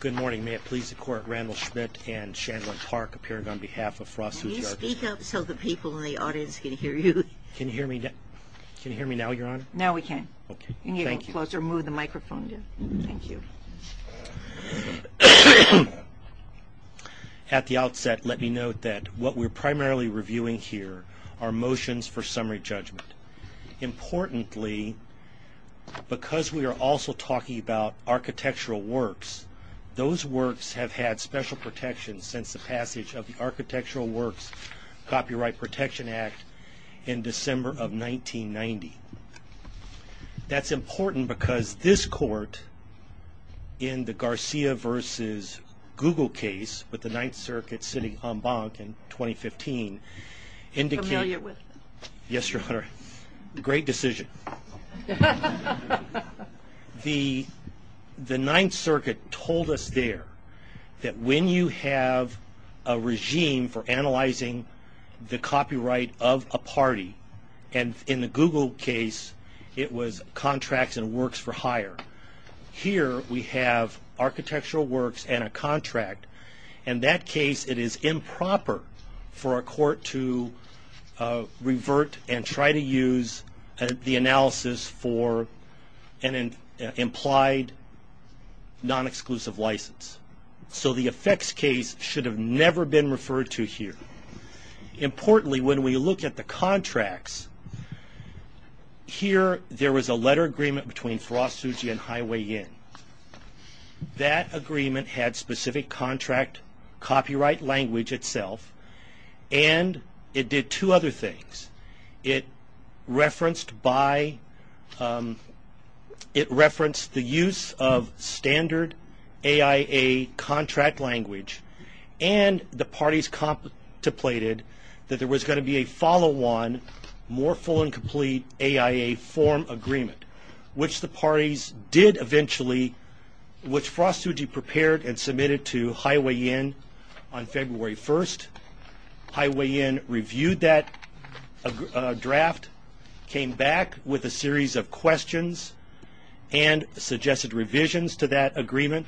Good morning. May it please the Court, Randall Schmidt and Chandler Park appearing on behalf of Frost-Tsuji Architects. Can you speak up so the people in the audience can hear you? Can you hear me now, Your Honor? Now we can. Okay. Thank you. Can you close or move the microphone? Thank you. At the outset, let me note that what we're primarily reviewing here are motions for summary judgment. Importantly, because we are also talking about architectural works, those works have had special protection since the passage of the Architectural Works Copyright Protection Act in December of 1990. That's important because this Court, in the Garcia v. Google case with the Ninth Circuit sitting en banc in 2015, Yes, Your Honor. Great decision. The Ninth Circuit told us there that when you have a regime for analyzing the copyright of a party, and in the Google case, it was contracts and works for hire. Here, we have architectural works and a contract. In that case, it is improper for a court to revert and try to use the analysis for an implied non-exclusive license. So the effects case should have never been referred to here. Importantly, when we look at the contracts, here there was a letter agreement between Firasuji and Highway Inn. That agreement had specific contract copyright language itself, and it did two other things. It referenced the use of standard AIA contract language, and the parties contemplated that there was going to be a follow-on, more full and complete AIA form agreement, which the parties did eventually, which Firasuji prepared and submitted to Highway Inn on February 1st. Highway Inn reviewed that draft, came back with a series of questions and suggested revisions to that agreement.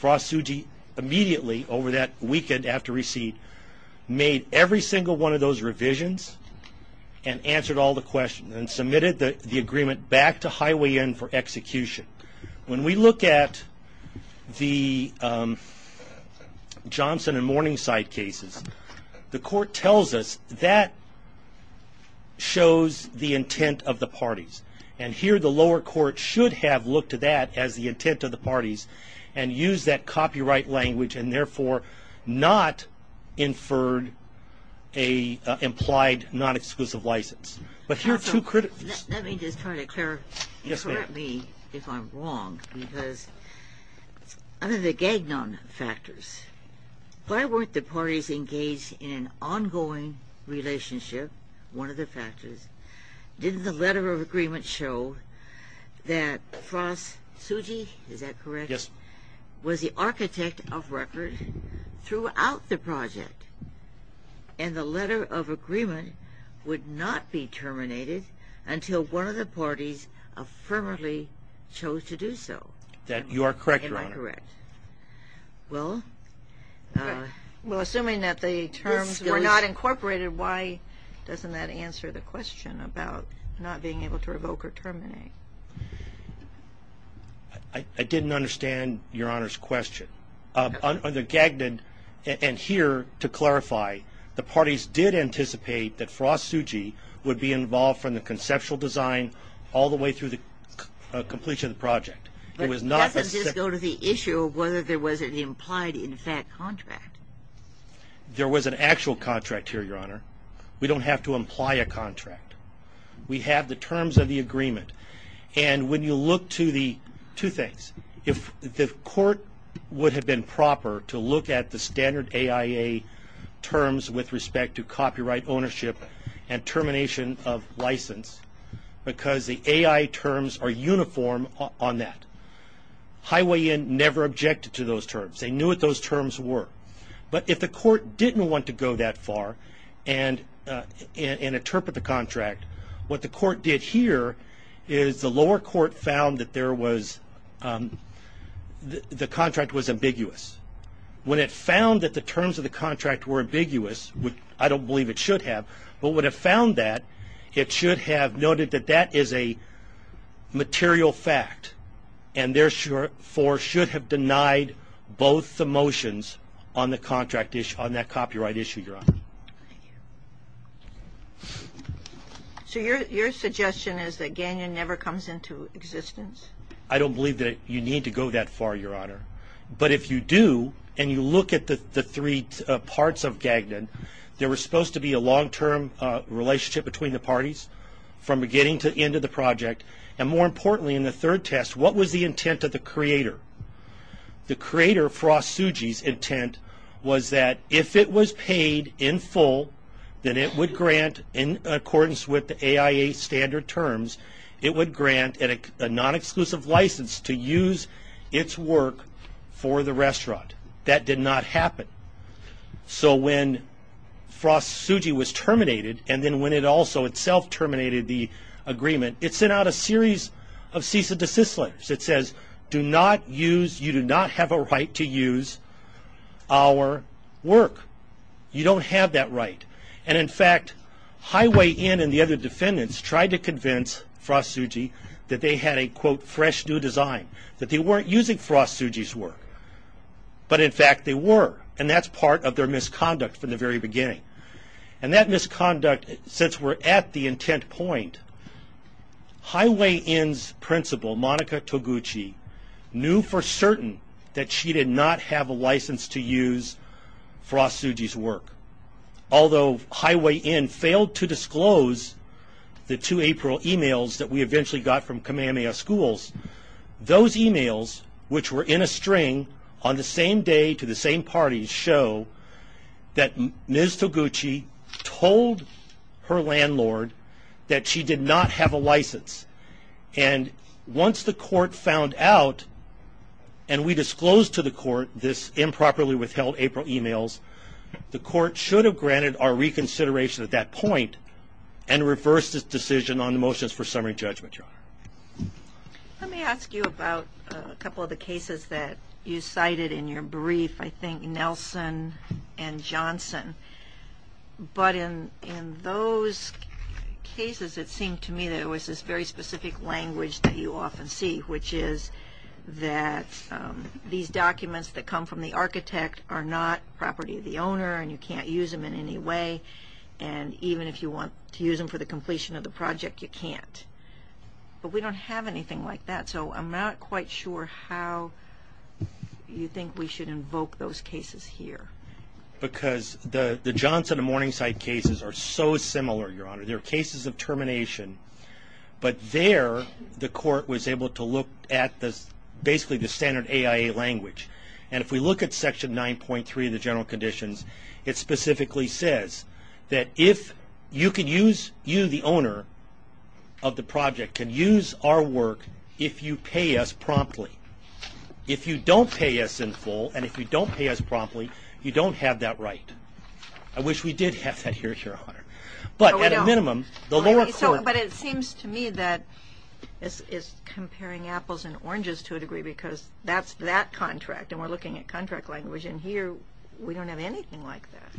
Firasuji immediately, over that weekend after receipt, made every single one of those revisions and answered all the questions and submitted the agreement back to Highway Inn for execution. When we look at the Johnson and Morningside cases, the court tells us that shows the intent of the parties. And here the lower court should have looked at that as the intent of the parties and used that copyright language and therefore not inferred an implied non-exclusive license. Let me just try to clarify, and correct me if I'm wrong, because of the gagnon factors. Why weren't the parties engaged in an ongoing relationship, one of the factors? Didn't the letter of agreement show that Firasuji, is that correct? Yes. Was the architect of record throughout the project and the letter of agreement would not be terminated until one of the parties affirmatively chose to do so? You are correct, Your Honor. Am I correct? Well, assuming that the terms were not incorporated, why doesn't that answer the question about not being able to revoke or terminate? I didn't understand Your Honor's question. On the gagnon, and here to clarify, the parties did anticipate that Firasuji would be involved from the conceptual design all the way through the completion of the project. But that doesn't just go to the issue of whether there was an implied in fact contract. There was an actual contract here, Your Honor. We don't have to imply a contract. We have the terms of the agreement, and when you look to the two things, if the court would have been proper to look at the standard AIA terms with respect to copyright ownership and termination of license because the AI terms are uniform on that. Highway End never objected to those terms. They knew what those terms were. But if the court didn't want to go that far and interpret the contract, what the court did here is the lower court found that the contract was ambiguous. When it found that the terms of the contract were ambiguous, which I don't believe it should have, but when it found that, it should have noted that that is a material fact and therefore should have denied both the motions on that copyright issue, Your Honor. So your suggestion is that Gagnon never comes into existence? I don't believe that you need to go that far, Your Honor. But if you do and you look at the three parts of Gagnon, there was supposed to be a long-term relationship between the parties from beginning to end of the project, and more importantly in the third test, what was the intent of the creator? The creator, Frost Tsuji's intent was that if it was paid in full, then it would grant in accordance with the AIA standard terms, it would grant a non-exclusive license to use its work for the restaurant. That did not happen. So when Frost Tsuji was terminated and then when it also itself terminated the agreement, it sent out a series of cease and desist letters. It says, do not use, you do not have a right to use our work. You don't have that right. And in fact, Highway Inn and the other defendants tried to convince Frost Tsuji that they had a, quote, fresh new design, that they weren't using Frost Tsuji's work. But in fact they were, and that's part of their misconduct from the very beginning. And that misconduct, since we're at the intent point, Highway Inn's principal, Monica Toguchi, knew for certain that she did not have a license to use Frost Tsuji's work. Although Highway Inn failed to disclose the two April emails that we eventually got from Kamehameha Schools, those emails, which were in a string on the same day to the same parties, did not show that Ms. Toguchi told her landlord that she did not have a license. And once the court found out, and we disclosed to the court this improperly withheld April emails, the court should have granted our reconsideration at that point and reversed its decision on the motions for summary judgment, Your Honor. Let me ask you about a couple of the cases that you cited in your brief. I think Nelson and Johnson. But in those cases it seemed to me that it was this very specific language that you often see, which is that these documents that come from the architect are not property of the owner and you can't use them in any way. And even if you want to use them for the completion of the project, you can't. But we don't have anything like that. So I'm not quite sure how you think we should invoke those cases here. Because the Johnson and Morningside cases are so similar, Your Honor. They're cases of termination. But there the court was able to look at basically the standard AIA language. And if we look at Section 9.3 of the General Conditions, it specifically says that if you can use, you, the owner of the project, can use our work if you pay us promptly. If you don't pay us in full and if you don't pay us promptly, you don't have that right. I wish we did have that here, Your Honor. But at a minimum, the lower court. But it seems to me that this is comparing apples and oranges to a degree because that's that contract and we're looking at contract language. And here we don't have anything like that.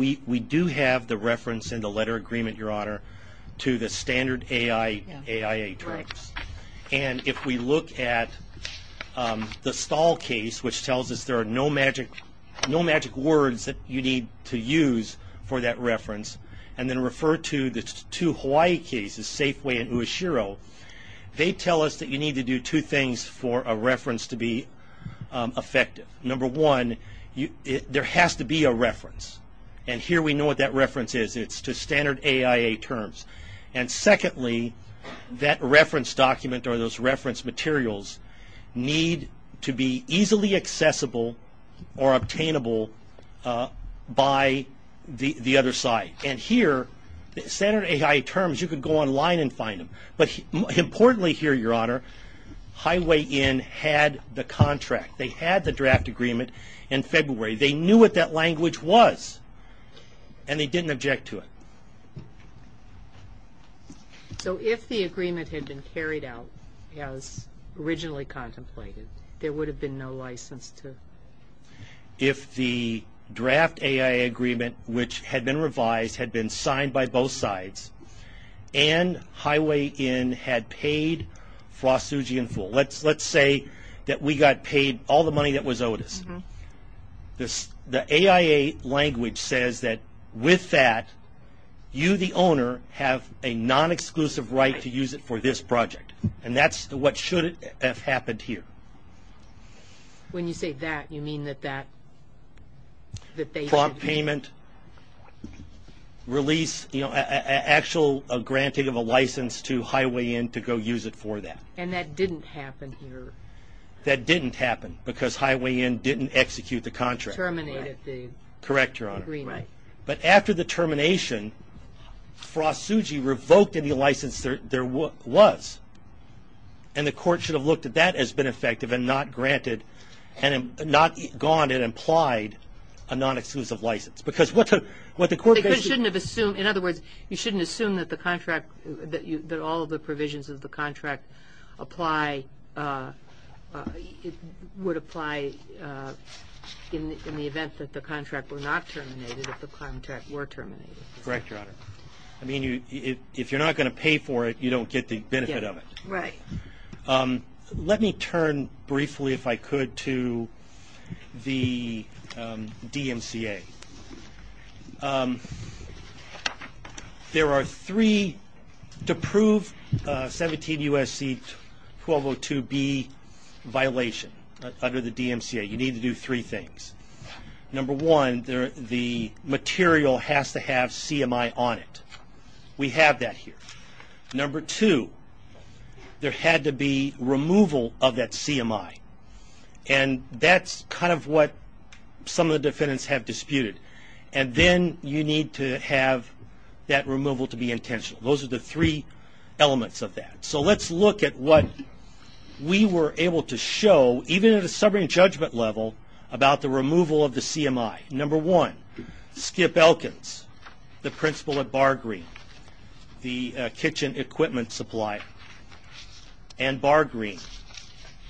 We do have the reference in the letter agreement, Your Honor, to the standard AIA terms. And if we look at the Stahl case, which tells us there are no magic words that you need to use for that reference, and then refer to the two Hawaii cases, Safeway and Ueshiro, they tell us that you need to do two things for a reference to be effective. Number one, there has to be a reference. And here we know what that reference is. It's to standard AIA terms. And secondly, that reference document or those reference materials need to be easily accessible or obtainable by the other side. And here, standard AIA terms, you can go online and find them. But importantly here, Your Honor, Highway Inn had the contract. They had the draft agreement in February. They knew what that language was, and they didn't object to it. So if the agreement had been carried out as originally contemplated, there would have been no license to? If the draft AIA agreement, which had been revised, had been signed by both sides, and Highway Inn had paid Frost, Suji, and Fool. Let's say that we got paid all the money that was owed us. The AIA language says that with that, you, the owner, have a non-exclusive right to use it for this project. And that's what should have happened here. When you say that, you mean that they? Prompt payment, release, actual granting of a license to Highway Inn to go use it for that. And that didn't happen here. That didn't happen because Highway Inn didn't execute the contract. Terminated the agreement. Correct, Your Honor. Right. But after the termination, Frost, Suji revoked any license there was. And the court should have looked at that as been effective and not granted, and not gone and implied a non-exclusive license. In other words, you shouldn't assume that all of the provisions of the contract would apply in the event that the contract were not terminated, if the contract were terminated. Correct, Your Honor. I mean, if you're not going to pay for it, you don't get the benefit of it. Right. Let me turn briefly, if I could, to the DMCA. There are three to prove 17 U.S.C. 1202B violation under the DMCA. You need to do three things. Number one, the material has to have CMI on it. We have that here. Number two, there had to be removal of that CMI. And that's kind of what some of the defendants have disputed. And then you need to have that removal to be intentional. Those are the three elements of that. So let's look at what we were able to show, even at a sobering judgment level, about the removal of the CMI. Number one, Skip Elkins, the principal at Bargreen, the kitchen equipment supplier, and Bargreen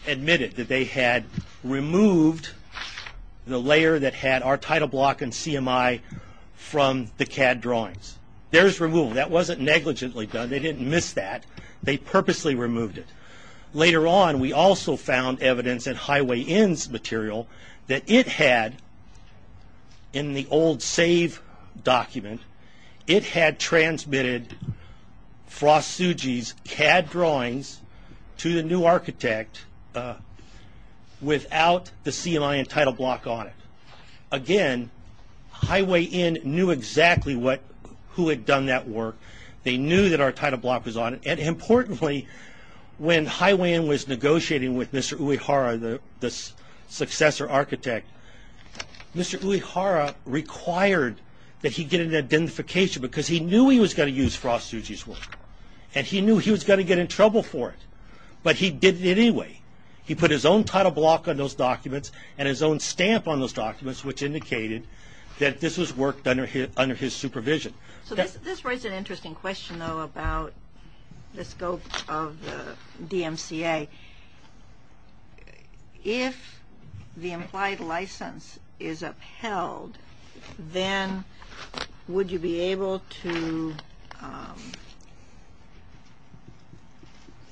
admitted that they had removed the layer that had our title block and CMI from the CAD drawings. There's removal. That wasn't negligently done. They didn't miss that. They purposely removed it. Later on, we also found evidence at Highway Inn's material that it had, in the old save document, it had transmitted Frost Suji's CAD drawings to the new architect without the CMI and title block on it. Again, Highway Inn knew exactly who had done that work. They knew that our title block was on it. And importantly, when Highway Inn was negotiating with Mr. Uehara, the successor architect, Mr. Uehara required that he get an identification because he knew he was going to use Frost Suji's work, and he knew he was going to get in trouble for it. But he did it anyway. He put his own title block on those documents and his own stamp on those documents, which indicated that this was work under his supervision. This raises an interesting question, though, about the scope of the DMCA. If the implied license is upheld, then would you be able to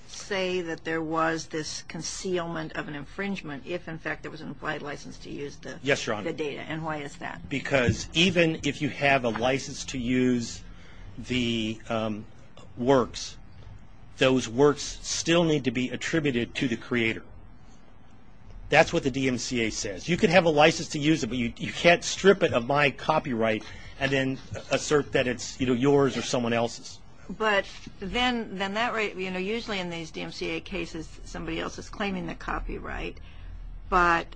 say that there was this concealment of an infringement if, in fact, there was an implied license to use the data, and why is that? Because even if you have a license to use the works, those works still need to be attributed to the creator. That's what the DMCA says. You could have a license to use it, but you can't strip it of my copyright and then assert that it's, you know, yours or someone else's. Usually in these DMCA cases, somebody else is claiming the copyright, but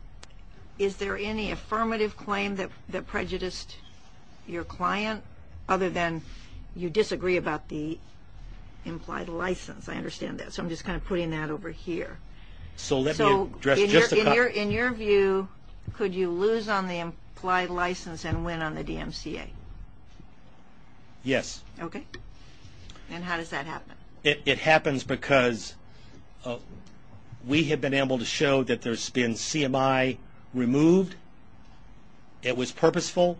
is there any affirmative claim that prejudiced your client other than you disagree about the implied license? I understand that. So I'm just kind of putting that over here. In your view, could you lose on the implied license and win on the DMCA? Yes. Okay. And how does that happen? It happens because we have been able to show that there's been CMI removed, it was purposeful,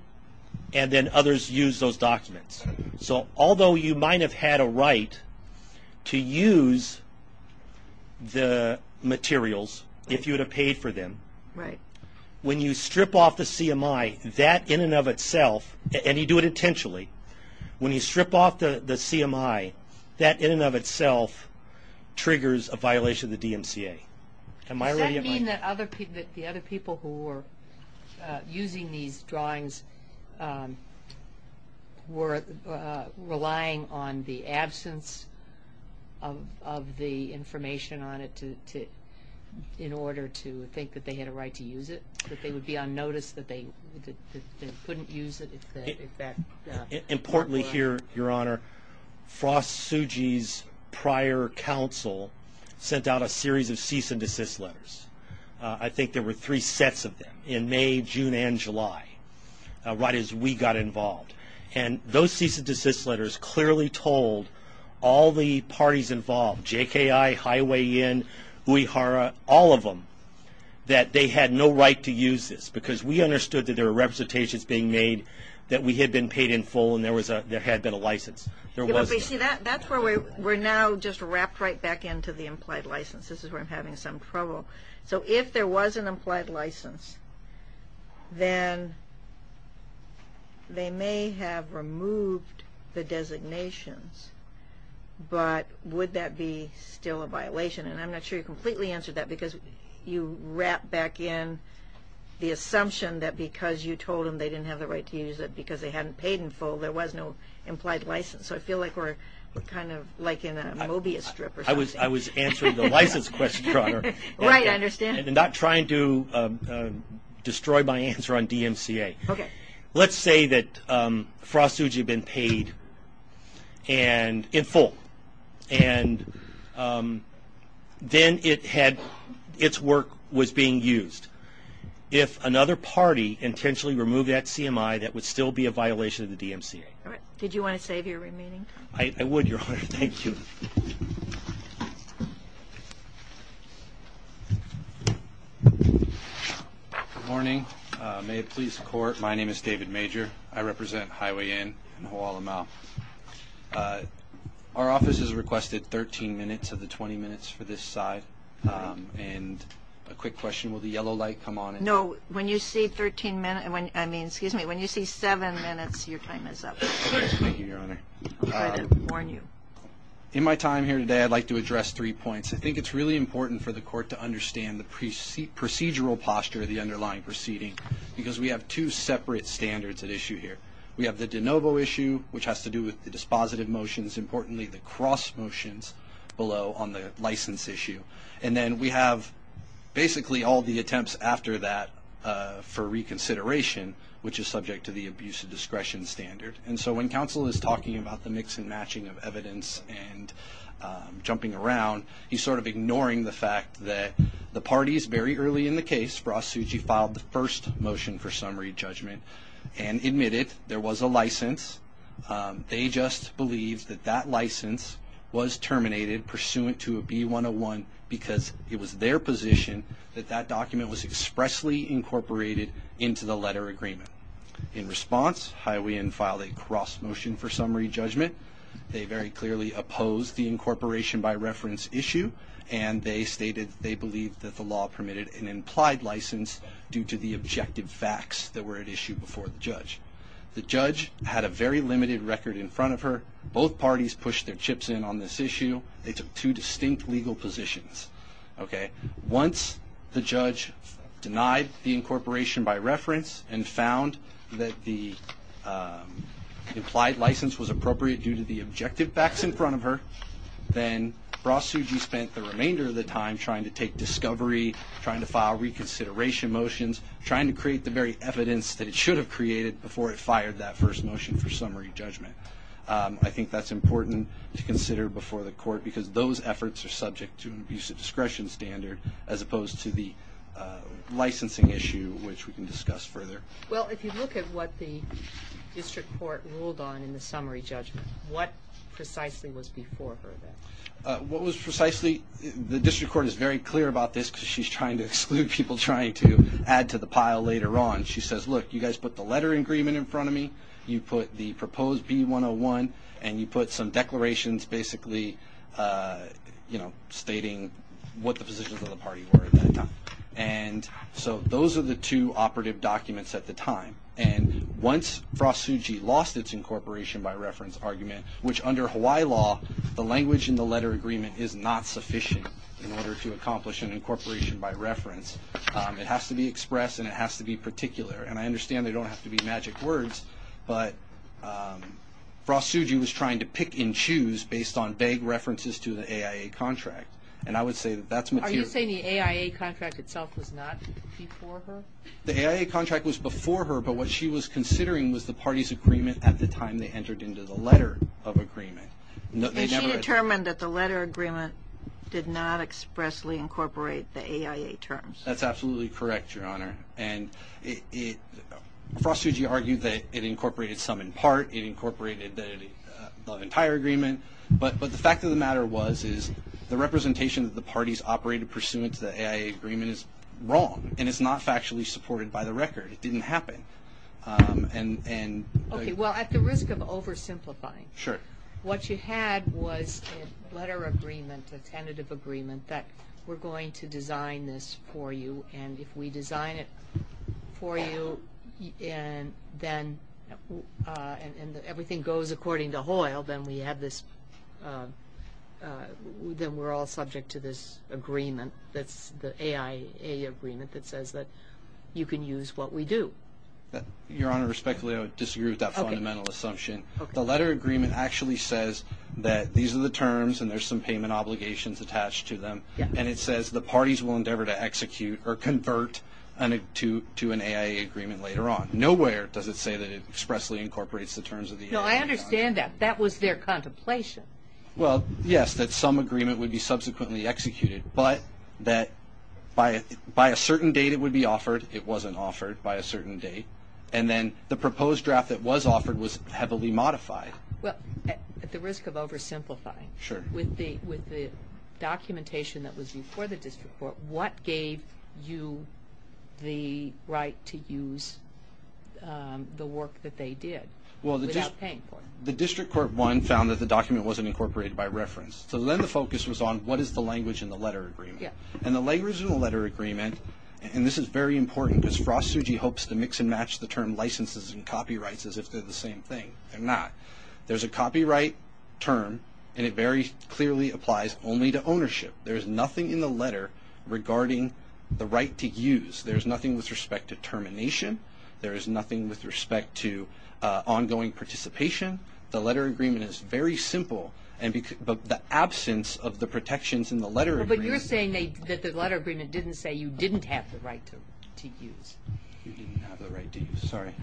and then others used those documents. So although you might have had a right to use the materials if you would have paid for them, when you strip off the CMI, that in and of itself, and you do it intentionally, when you strip off the CMI, that in and of itself triggers a violation of the DMCA. Does that mean that the other people who were using these drawings were relying on the absence of the information on it in order to think that they had a right to use it, that they would be on notice that they couldn't use it? Importantly here, Your Honor, Frost Suji's prior counsel sent out a series of cease and desist letters. I think there were three sets of them in May, June, and July, right as we got involved. And those cease and desist letters clearly told all the parties involved, JKI, Highway Inn, Uehara, all of them, that they had no right to use this because we understood that there were representations being made, that we had been paid in full, and there had been a license. You see, that's where we're now just wrapped right back into the implied license. This is where I'm having some trouble. So if there was an implied license, then they may have removed the designations, but would that be still a violation? And I'm not sure you completely answered that because you wrap back in the assumption that because you told them they didn't have the right to use it because they hadn't paid in full, there was no implied license. So I feel like we're kind of like in a Mobius strip or something. I was answering the license question, Your Honor. Right, I understand. And not trying to destroy my answer on DMCA. Okay. Let's say that Frost Fuji had been paid in full, and then its work was being used. If another party intentionally removed that CMI, that would still be a violation of the DMCA. All right. Did you want to save your remaining time? I would, Your Honor. Good morning. May it please the Court. My name is David Major. I represent Highway Inn and Hoala Mau. Our office has requested 13 minutes of the 20 minutes for this side. And a quick question. Will the yellow light come on? No. When you say 13 minutes, I mean, excuse me, when you say 7 minutes, your time is up. Thank you, Your Honor. I'll try to warn you. In my time here today, I'd like to address three points. I think it's really important for the Court to understand the procedural posture of the underlying proceeding because we have two separate standards at issue here. We have the de novo issue, which has to do with the dispositive motions. Importantly, the cross motions below on the license issue. And then we have basically all the attempts after that for reconsideration, which is subject to the abuse of discretion standard. And so when counsel is talking about the mix and matching of evidence and jumping around, he's sort of ignoring the fact that the parties very early in the case, Ross Suji filed the first motion for summary judgment and admitted there was a license. They just believed that that license was terminated pursuant to a B-101 because it was their position that that document was expressly incorporated into the letter agreement. In response, Hiawean filed a cross motion for summary judgment. They very clearly opposed the incorporation by reference issue, and they stated they believed that the law permitted an implied license due to the objective facts that were at issue before the judge. The judge had a very limited record in front of her. Both parties pushed their chips in on this issue. They took two distinct legal positions. Once the judge denied the incorporation by reference and found that the implied license was appropriate due to the objective facts in front of her, then Ross Suji spent the remainder of the time trying to take discovery, trying to file reconsideration motions, trying to create the very evidence that it should have created before it fired that first motion for summary judgment. I think that's important to consider before the court because those efforts are subject to an abuse of discretion standard as opposed to the licensing issue, which we can discuss further. Well, if you look at what the district court ruled on in the summary judgment, what precisely was before her then? What was precisely, the district court is very clear about this because she's trying to exclude people trying to add to the pile later on. She says, look, you guys put the letter agreement in front of me, you put the proposed B-101, and you put some declarations basically stating what the positions of the party were at that time. Those are the two operative documents at the time. Once Ross Suji lost its incorporation by reference argument, which under Hawaii law, the language in the letter agreement is not sufficient in order to accomplish an incorporation by reference. It has to be expressed and it has to be particular. I understand they don't have to be magic words, but Ross Suji was trying to pick and choose based on vague references to the AIA contract. And I would say that that's material. Are you saying the AIA contract itself was not before her? The AIA contract was before her, but what she was considering was the party's agreement at the time they entered into the letter of agreement. And she determined that the letter agreement did not expressly incorporate the AIA terms. That's absolutely correct, Your Honor. And Ross Suji argued that it incorporated some in part. It incorporated the entire agreement. But the fact of the matter was is the representation of the parties operated pursuant to the AIA agreement is wrong, and it's not factually supported by the record. It didn't happen. Okay, well, at the risk of oversimplifying, what you had was a letter agreement, a tentative agreement that we're going to design this for you, and if we design it for you, and everything goes according to HOIL, then we're all subject to this agreement that's the AIA agreement that says that you can use what we do. Your Honor, respectfully, I would disagree with that fundamental assumption. The letter agreement actually says that these are the terms, and there's some payment obligations attached to them, and it says the parties will endeavor to execute or convert to an AIA agreement later on. Nowhere does it say that it expressly incorporates the terms of the AIA. No, I understand that. That was their contemplation. Well, yes, that some agreement would be subsequently executed, but that by a certain date it would be offered. It wasn't offered by a certain date. And then the proposed draft that was offered was heavily modified. Well, at the risk of oversimplifying, with the documentation that was before the district court, what gave you the right to use the work that they did without paying for it? Well, the district court, one, found that the document wasn't incorporated by reference, so then the focus was on what is the language in the letter agreement. And the language in the letter agreement, and this is very important, because Frost Suji hopes to mix and match the term licenses and copyrights as if they're the same thing. They're not. There's a copyright term, and it very clearly applies only to ownership. There is nothing in the letter regarding the right to use. There is nothing with respect to termination. There is nothing with respect to ongoing participation. The letter agreement is very simple, but the absence of the protections in the letter agreement. You're saying that the letter agreement didn't say you didn't have the right to use. You didn't have the right to use. Sorry.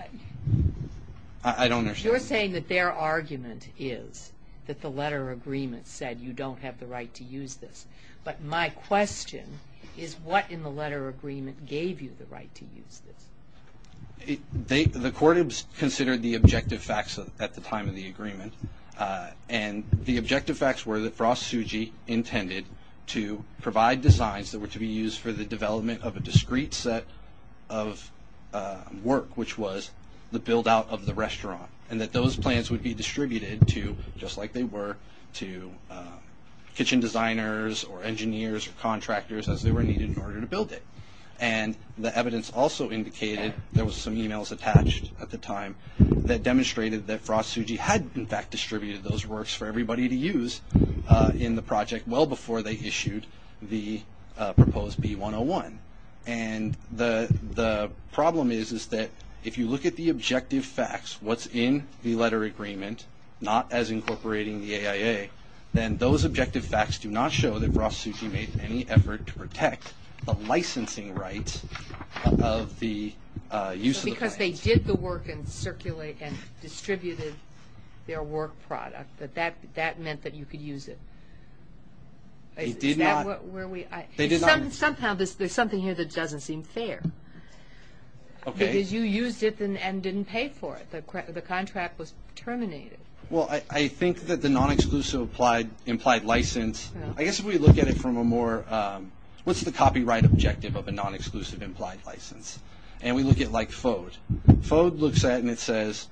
I don't understand. You're saying that their argument is that the letter agreement said you don't have the right to use this. But my question is what in the letter agreement gave you the right to use this? The court considered the objective facts at the time of the agreement, and the objective facts were that Frost Suji intended to provide designs that were to be used for the development of a discrete set of work, which was the build-out of the restaurant, and that those plans would be distributed to, just like they were, to kitchen designers or engineers or contractors as they were needed in order to build it. And the evidence also indicated, there was some e-mails attached at the time, that demonstrated that Frost Suji had, in fact, distributed those works for everybody to use in the project well before they issued the proposed B-101. And the problem is that if you look at the objective facts, what's in the letter agreement, not as incorporating the AIA, then those objective facts do not show that Frost Suji made any effort to protect the licensing rights of the use of the plans. But if they did the work and circulated and distributed their work product, that that meant that you could use it. They did not. Somehow there's something here that doesn't seem fair. Okay. Because you used it and didn't pay for it. The contract was terminated. Well, I think that the non-exclusive implied license, I guess if we look at it from a more, what's the copyright objective of a non-exclusive implied license? And we look at, like, FODE. FODE looks at it and it says,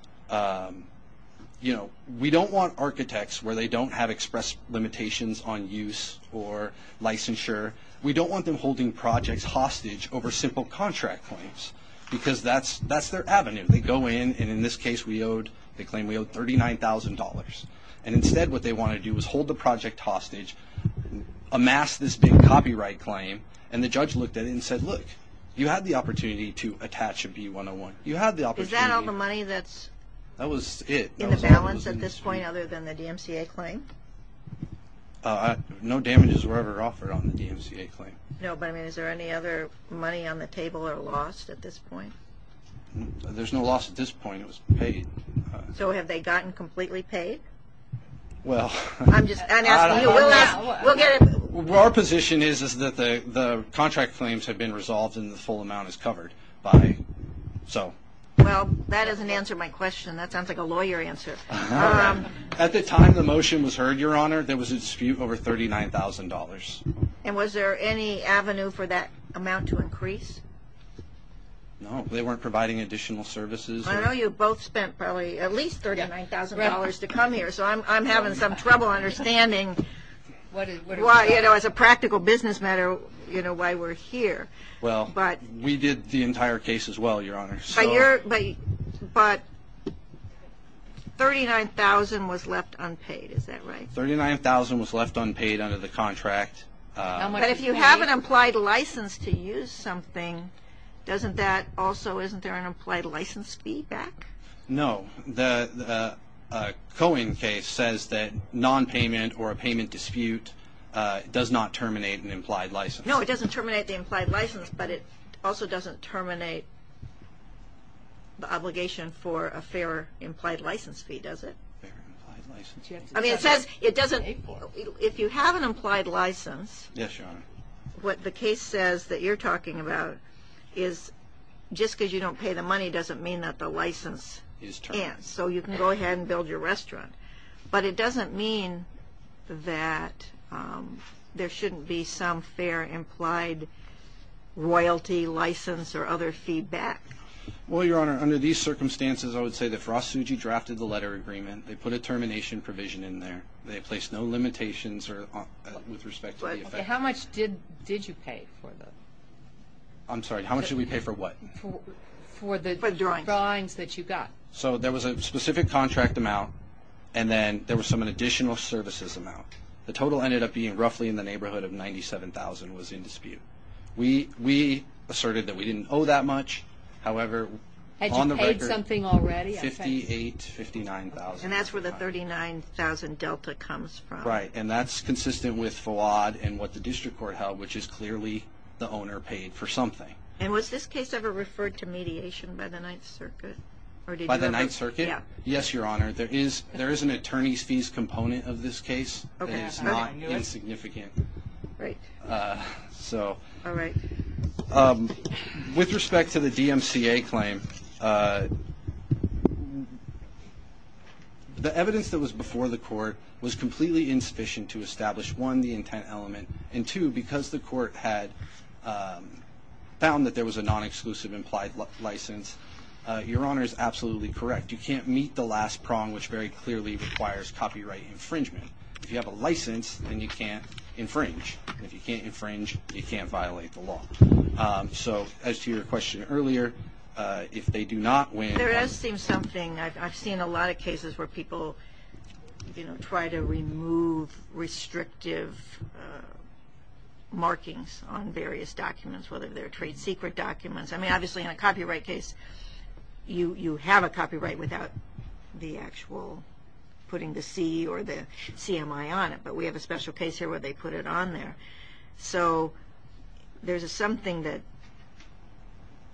you know, we don't want architects where they don't have express limitations on use or licensure, we don't want them holding projects hostage over simple contract claims because that's their avenue. They go in, and in this case we owed, they claim we owed $39,000. And instead what they want to do is hold the project hostage, amass this big copyright claim, and the judge looked at it and said, look, you had the opportunity to attach a B-101. Is that all the money that's in the balance at this point other than the DMCA claim? No damages were ever offered on the DMCA claim. No, but, I mean, is there any other money on the table or lost at this point? There's no loss at this point. It was paid. So have they gotten completely paid? Well, I'm just asking. Our position is that the contract claims have been resolved and the full amount is covered by, so. Well, that doesn't answer my question. That sounds like a lawyer answer. At the time the motion was heard, Your Honor, there was a dispute over $39,000. And was there any avenue for that amount to increase? No, they weren't providing additional services. I know you both spent probably at least $39,000 to come here, so I'm having some trouble understanding why, as a practical business matter, why we're here. Well, we did the entire case as well, Your Honor. But $39,000 was left unpaid, is that right? $39,000 was left unpaid under the contract. But if you have an implied license to use something, doesn't that also, isn't there an implied license fee back? No. The Cohen case says that nonpayment or a payment dispute does not terminate an implied license. No, it doesn't terminate the implied license, but it also doesn't terminate the obligation for a fair implied license fee, does it? Fair implied license fee. I mean, it says it doesn't, if you have an implied license. Yes, Your Honor. What the case says that you're talking about is just because you don't pay the money doesn't mean that the license ends. So you can go ahead and build your restaurant. But it doesn't mean that there shouldn't be some fair implied royalty license or other feedback. Well, Your Honor, under these circumstances, I would say that Frost Suji drafted the letter agreement. They put a termination provision in there. They placed no limitations with respect to the effect. How much did you pay for the? I'm sorry, how much did we pay for what? For the drawings that you got. So there was a specific contract amount, and then there was some additional services amount. The total ended up being roughly in the neighborhood of $97,000 was in dispute. We asserted that we didn't owe that much. However, on the record. Had you paid something already? $58,000, $59,000. And that's where the $39,000 delta comes from. Right, and that's consistent with FWAD and what the district court held, which is clearly the owner paid for something. And was this case ever referred to mediation by the Ninth Circuit? By the Ninth Circuit? Yes, Your Honor. There is an attorney's fees component of this case. It is not insignificant. Right. So. All right. With respect to the DMCA claim, the evidence that was before the court was completely insufficient to establish, one, the intent element, and two, because the court had found that there was a non-exclusive implied license, Your Honor is absolutely correct. You can't meet the last prong, which very clearly requires copyright infringement. If you have a license, then you can't infringe. If you can't infringe, you can't violate the law. So as to your question earlier, if they do not win. There does seem something. I've seen a lot of cases where people, you know, try to remove restrictive markings on various documents, whether they're trade secret documents. I mean, obviously, in a copyright case, you have a copyright without the actual putting the C or the CMI on it. But we have a special case here where they put it on there. So there's something that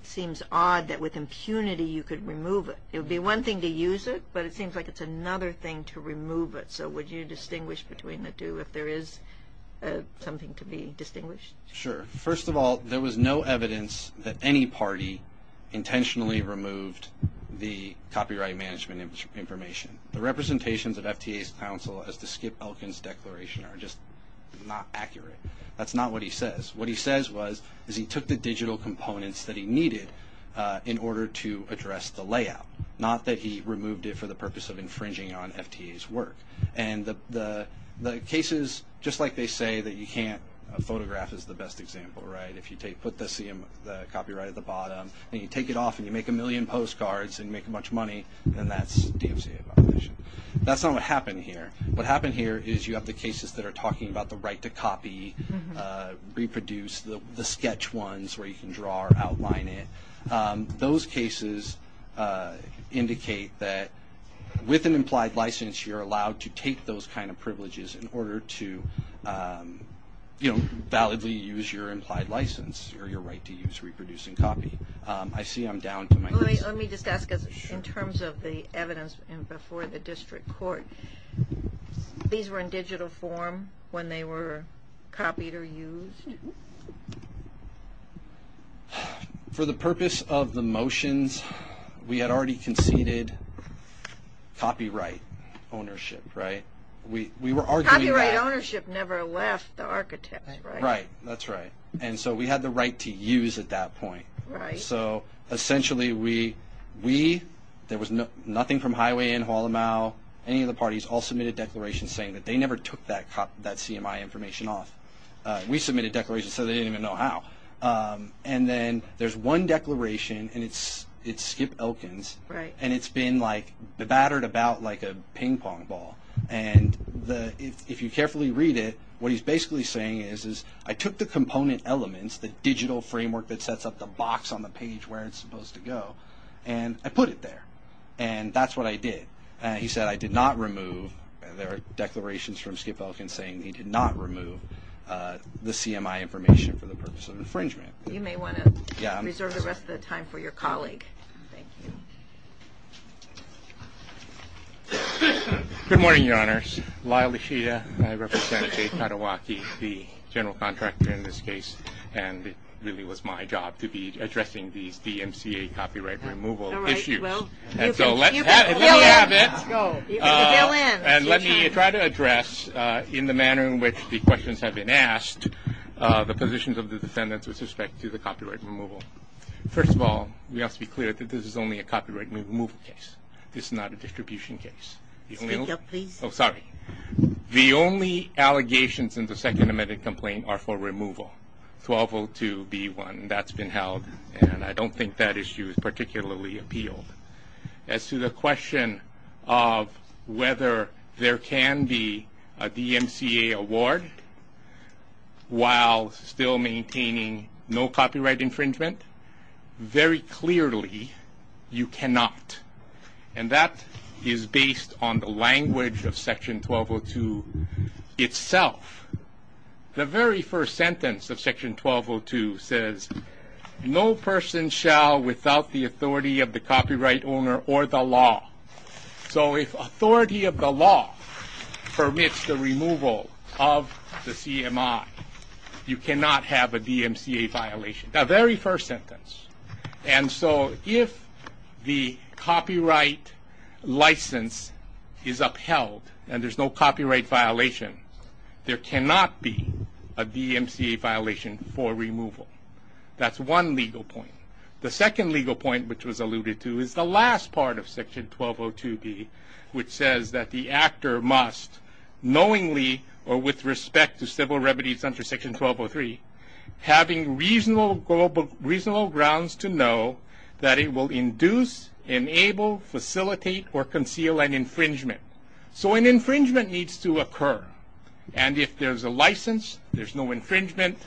seems odd that with impunity you could remove it. It would be one thing to use it, but it seems like it's another thing to remove it. So would you distinguish between the two if there is something to be distinguished? Sure. First of all, there was no evidence that any party intentionally removed the copyright management information. The representations of FTA's counsel as to Skip Elkin's declaration are just not accurate. That's not what he says. What he says was is he took the digital components that he needed in order to address the layout, not that he removed it for the purpose of infringing on FTA's work. And the cases, just like they say, that you can't photograph is the best example, right? If you put the copyright at the bottom and you take it off and you make a million postcards and make a bunch of money, then that's DFCA violation. That's not what happened here. What happened here is you have the cases that are talking about the right to copy, reproduce, the sketch ones where you can draw or outline it. Those cases indicate that with an implied license, you're allowed to take those kind of privileges in order to, you know, validly use your implied license or your right to use, reproduce, and copy. I see I'm down to my question. Let me just ask in terms of the evidence before the district court, these were in digital form when they were copied or used? For the purpose of the motions, we had already conceded copyright ownership, right? Copyright ownership never left the architects, right? Right, that's right. And so we had the right to use at that point. Right. So essentially we, there was nothing from Highway and Hualamao, any of the parties all submitted declarations saying that they never took that CMI information off. We submitted declarations so they didn't even know how. And then there's one declaration and it's Skip Elkins. Right. And it's been like battered about like a ping pong ball. And if you carefully read it, what he's basically saying is, is I took the component elements, the digital framework that sets up the box on the page where it's supposed to go, and I put it there. And that's what I did. He said I did not remove, there are declarations from Skip Elkins saying he did not remove the CMI information for the purpose of infringement. You may want to reserve the rest of the time for your colleague. Thank you. Good morning, Your Honors. Lyle Ishida and I represent Jay Katawaki, the general contractor in this case, and it really was my job to be addressing these DMCA copyright removal issues. All right, well, you can fill in. And let me try to address, in the manner in which the questions have been asked, the positions of the defendants with respect to the copyright removal. First of all, we have to be clear that this is only a copyright removal case. This is not a distribution case. Speak up, please. Oh, sorry. The only allegations in the second amended complaint are for removal. 12-02-B1, that's been held. And I don't think that issue is particularly appealed. As to the question of whether there can be a DMCA award while still maintaining no copyright infringement, very clearly you cannot. And that is based on the language of Section 1202 itself. The very first sentence of Section 1202 says, no person shall without the authority of the copyright owner or the law. So if authority of the law permits the removal of the CMI, you cannot have a DMCA violation. The very first sentence. And so if the copyright license is upheld and there's no copyright violation, there cannot be a DMCA violation for removal. That's one legal point. The second legal point, which was alluded to, is the last part of Section 1202-B, which says that the actor must knowingly or with respect to civil remedies under Section 1203, having reasonable grounds to know that it will induce, enable, facilitate, or conceal an infringement. So an infringement needs to occur. And if there's a license, there's no infringement.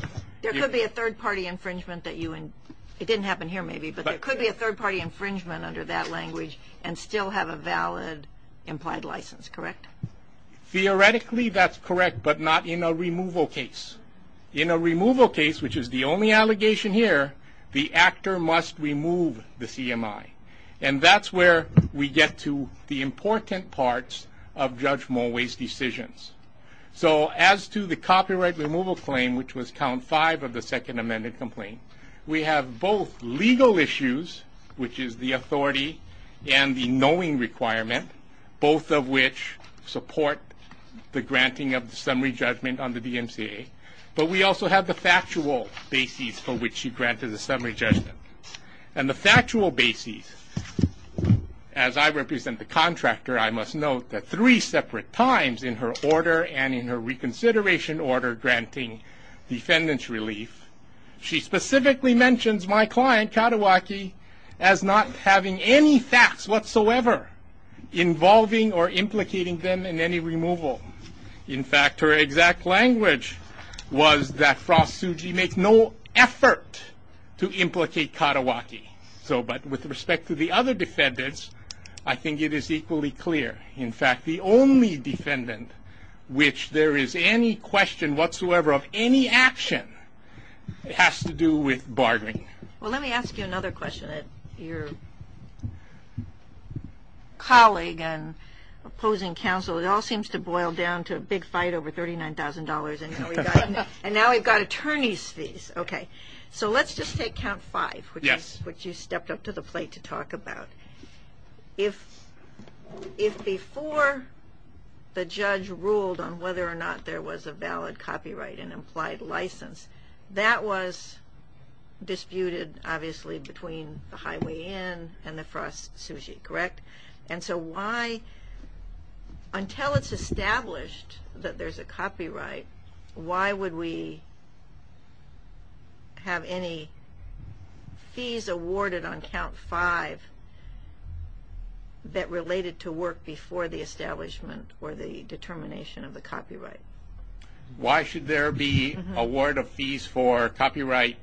There could be a third-party infringement that you, it didn't happen here maybe, but there could be a third-party infringement under that language and still have a valid implied license, correct? Theoretically, that's correct, but not in a removal case. In a removal case, which is the only allegation here, the actor must remove the CMI. And that's where we get to the important parts of Judge Mulway's decisions. So as to the copyright removal claim, which was count five of the second amended complaint, we have both legal issues, which is the authority and the knowing requirement, both of which support the granting of the summary judgment on the DMCA, but we also have the factual basis for which she granted the summary judgment. And the factual basis, as I represent the contractor, I must note that three separate times in her order and in her reconsideration order granting defendant's relief, she specifically mentions my client, Katawaki, as not having any facts whatsoever involving or implicating them in any removal. In fact, her exact language was that Frost Tsuji makes no effort to implicate Katawaki. But with respect to the other defendants, I think it is equally clear. In fact, the only defendant which there is any question whatsoever of any action has to do with bartering. Well, let me ask you another question. Your colleague and opposing counsel, it all seems to boil down to a big fight over $39,000, and now we've got attorney's fees. Okay. So let's just take count five, which you stepped up to the plate to talk about. If before the judge ruled on whether or not there was a valid copyright and implied license, that was disputed, obviously, between the Highway Inn and the Frost Tsuji, correct? And so why, until it's established that there's a copyright, why would we have any fees awarded on count five that related to work before the establishment or the determination of the copyright? Why should there be award of fees for copyright,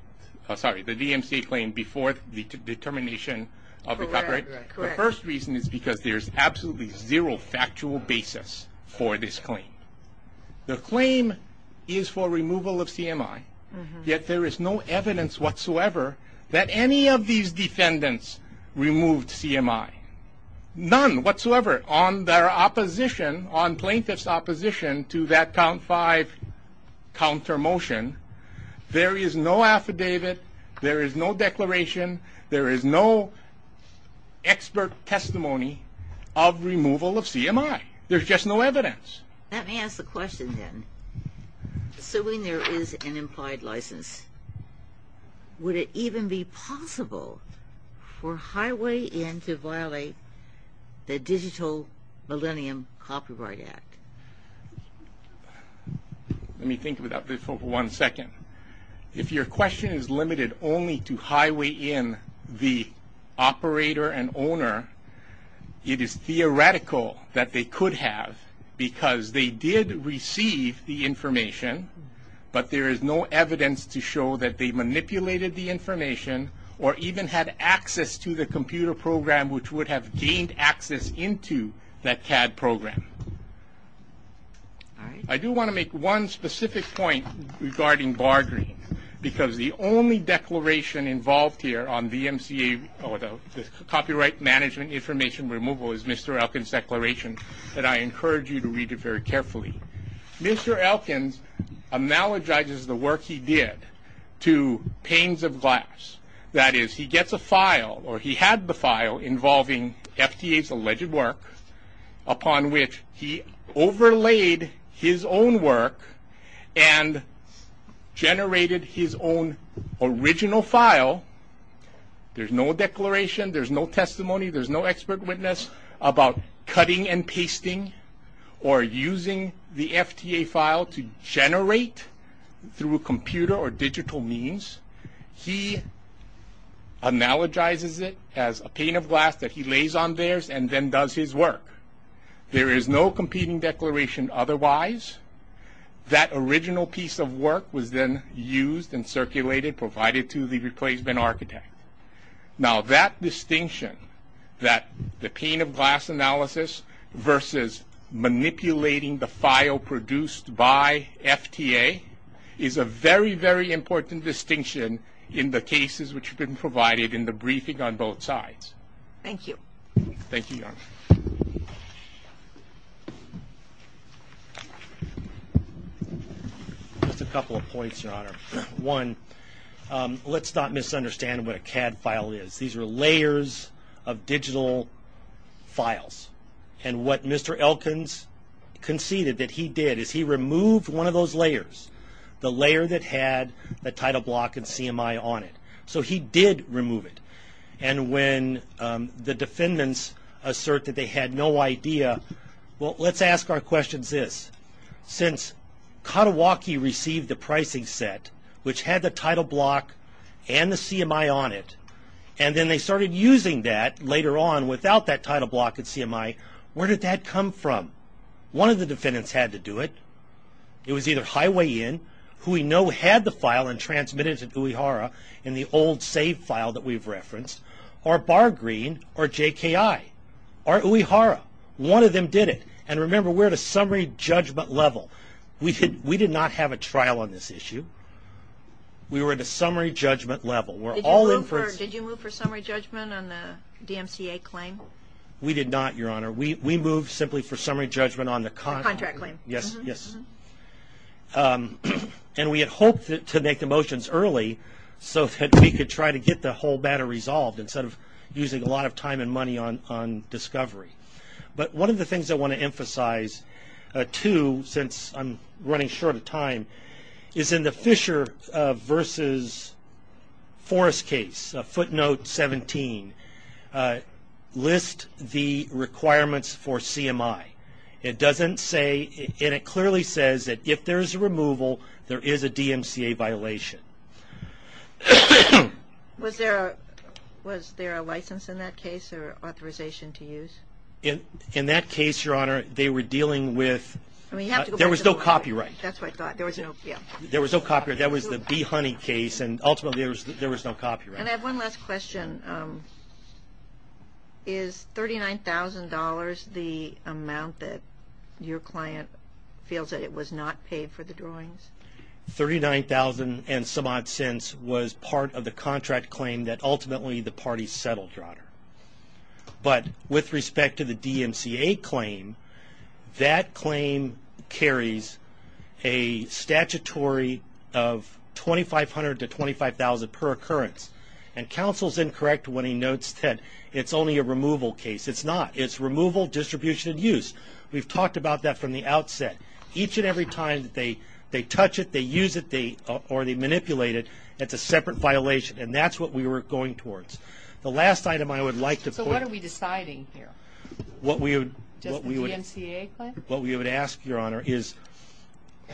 sorry, the DMC claim before the determination of the copyright? Correct. The first reason is because there's absolutely zero factual basis for this claim. The claim is for removal of CMI, yet there is no evidence whatsoever that any of these defendants removed CMI. None whatsoever. On their opposition, on plaintiff's opposition to that count five counter motion, there is no affidavit, there is no declaration, there is no expert testimony of removal of CMI. There's just no evidence. Let me ask the question then. Assuming there is an implied license, would it even be possible for Highway Inn to violate the Digital Millennium Copyright Act? Let me think about this for one second. If your question is limited only to Highway Inn, the operator and owner, it is theoretical that they could have because they did receive the information, but there is no evidence to show that they manipulated the information or even had access to the computer program which would have gained access into that CAD program. I do want to make one specific point regarding Bargreens, because the only declaration involved here on the copyright management information removal is Mr. Elkins' declaration, and I encourage you to read it very carefully. Mr. Elkins analogizes the work he did to panes of glass. That is, he gets a file or he had the file involving FTA's alleged work, upon which he overlaid his own work and generated his own original file. There's no declaration, there's no testimony, there's no expert witness about cutting and pasting or using the FTA file to generate through a computer or digital means. He analogizes it as a pane of glass that he lays on theirs and then does his work. There is no competing declaration otherwise. That original piece of work was then used and circulated, provided to the replacement architect. Now, that distinction, that the pane of glass analysis versus manipulating the file produced by FTA, is a very, very important distinction in the cases which have been provided in the briefing on both sides. Thank you. Thank you, Your Honor. Just a couple of points, Your Honor. One, let's not misunderstand what a CAD file is. These are layers of digital files, and what Mr. Elkins conceded that he did is he removed one of those layers, the layer that had the title block and CMI on it. So he did remove it, and when the defendants assert that they had no idea, well, let's ask our questions this. Since Katawaki received the pricing set, which had the title block and the CMI on it, and then they started using that later on without that title block and CMI, where did that come from? One of the defendants had to do it. It was either Highway Inn, who we know had the file and transmitted it to Uehara in the old save file that we've referenced, or Bargreen or JKI or Uehara. One of them did it, and remember, we're at a summary judgment level. We did not have a trial on this issue. We were at a summary judgment level. Did you move for summary judgment on the DMCA claim? We did not, Your Honor. We moved simply for summary judgment on the contract. Contract claim. Yes, yes. And we had hoped to make the motions early so that we could try to get the whole matter resolved instead of using a lot of time and money on discovery. But one of the things I want to emphasize, too, since I'm running short of time, is in the Fisher v. Forest case, footnote 17, list the requirements for CMI. It doesn't say, and it clearly says that if there is a removal, there is a DMCA violation. Was there a license in that case or authorization to use? In that case, Your Honor, they were dealing with, there was no copyright. That's what I thought. There was no, yeah. There was no copyright. That was the Bee Honey case, and ultimately there was no copyright. And I have one last question. Is $39,000 the amount that your client feels that it was not paid for the drawings? Thirty-nine thousand and some odd cents was part of the contract claim that ultimately the parties settled, Your Honor. But with respect to the DMCA claim, that claim carries a statutory of $2,500 to $25,000 per occurrence. And counsel's incorrect when he notes that it's only a removal case. It's not. It's removal, distribution, and use. We've talked about that from the outset. Each and every time that they touch it, they use it, or they manipulate it, it's a separate violation, and that's what we were going towards. The last item I would like to point out. So what are we deciding here? Does the DMCA claim? What we would ask, Your Honor, is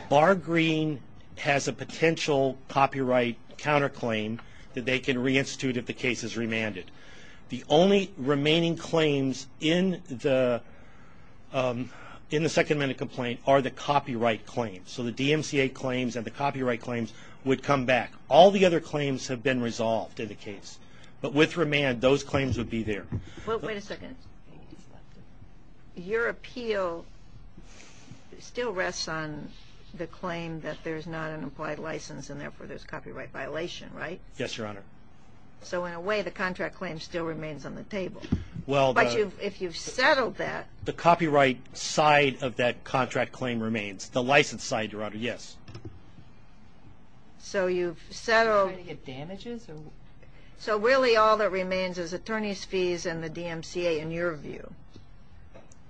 Bar Green has a potential copyright counterclaim that they can reinstitute if the case is remanded. The only remaining claims in the Second Amendment complaint are the copyright claims. So the DMCA claims and the copyright claims would come back. All the other claims have been resolved in the case. But with remand, those claims would be there. Wait a second. Your appeal still rests on the claim that there's not an implied license and therefore there's a copyright violation, right? Yes, Your Honor. So in a way, the contract claim still remains on the table. But if you've settled that. The copyright side of that contract claim remains. The license side, Your Honor, yes. So you've settled. So really all that remains is attorney's fees and the DMCA, in your view.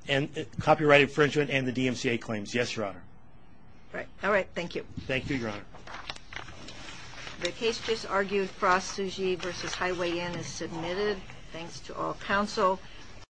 And copyright infringement and the DMCA claims, yes, Your Honor. All right, thank you. Thank you, Your Honor. The case just argued, Frost-Sugee v. Highway Inn, is submitted. Thanks to all counsel.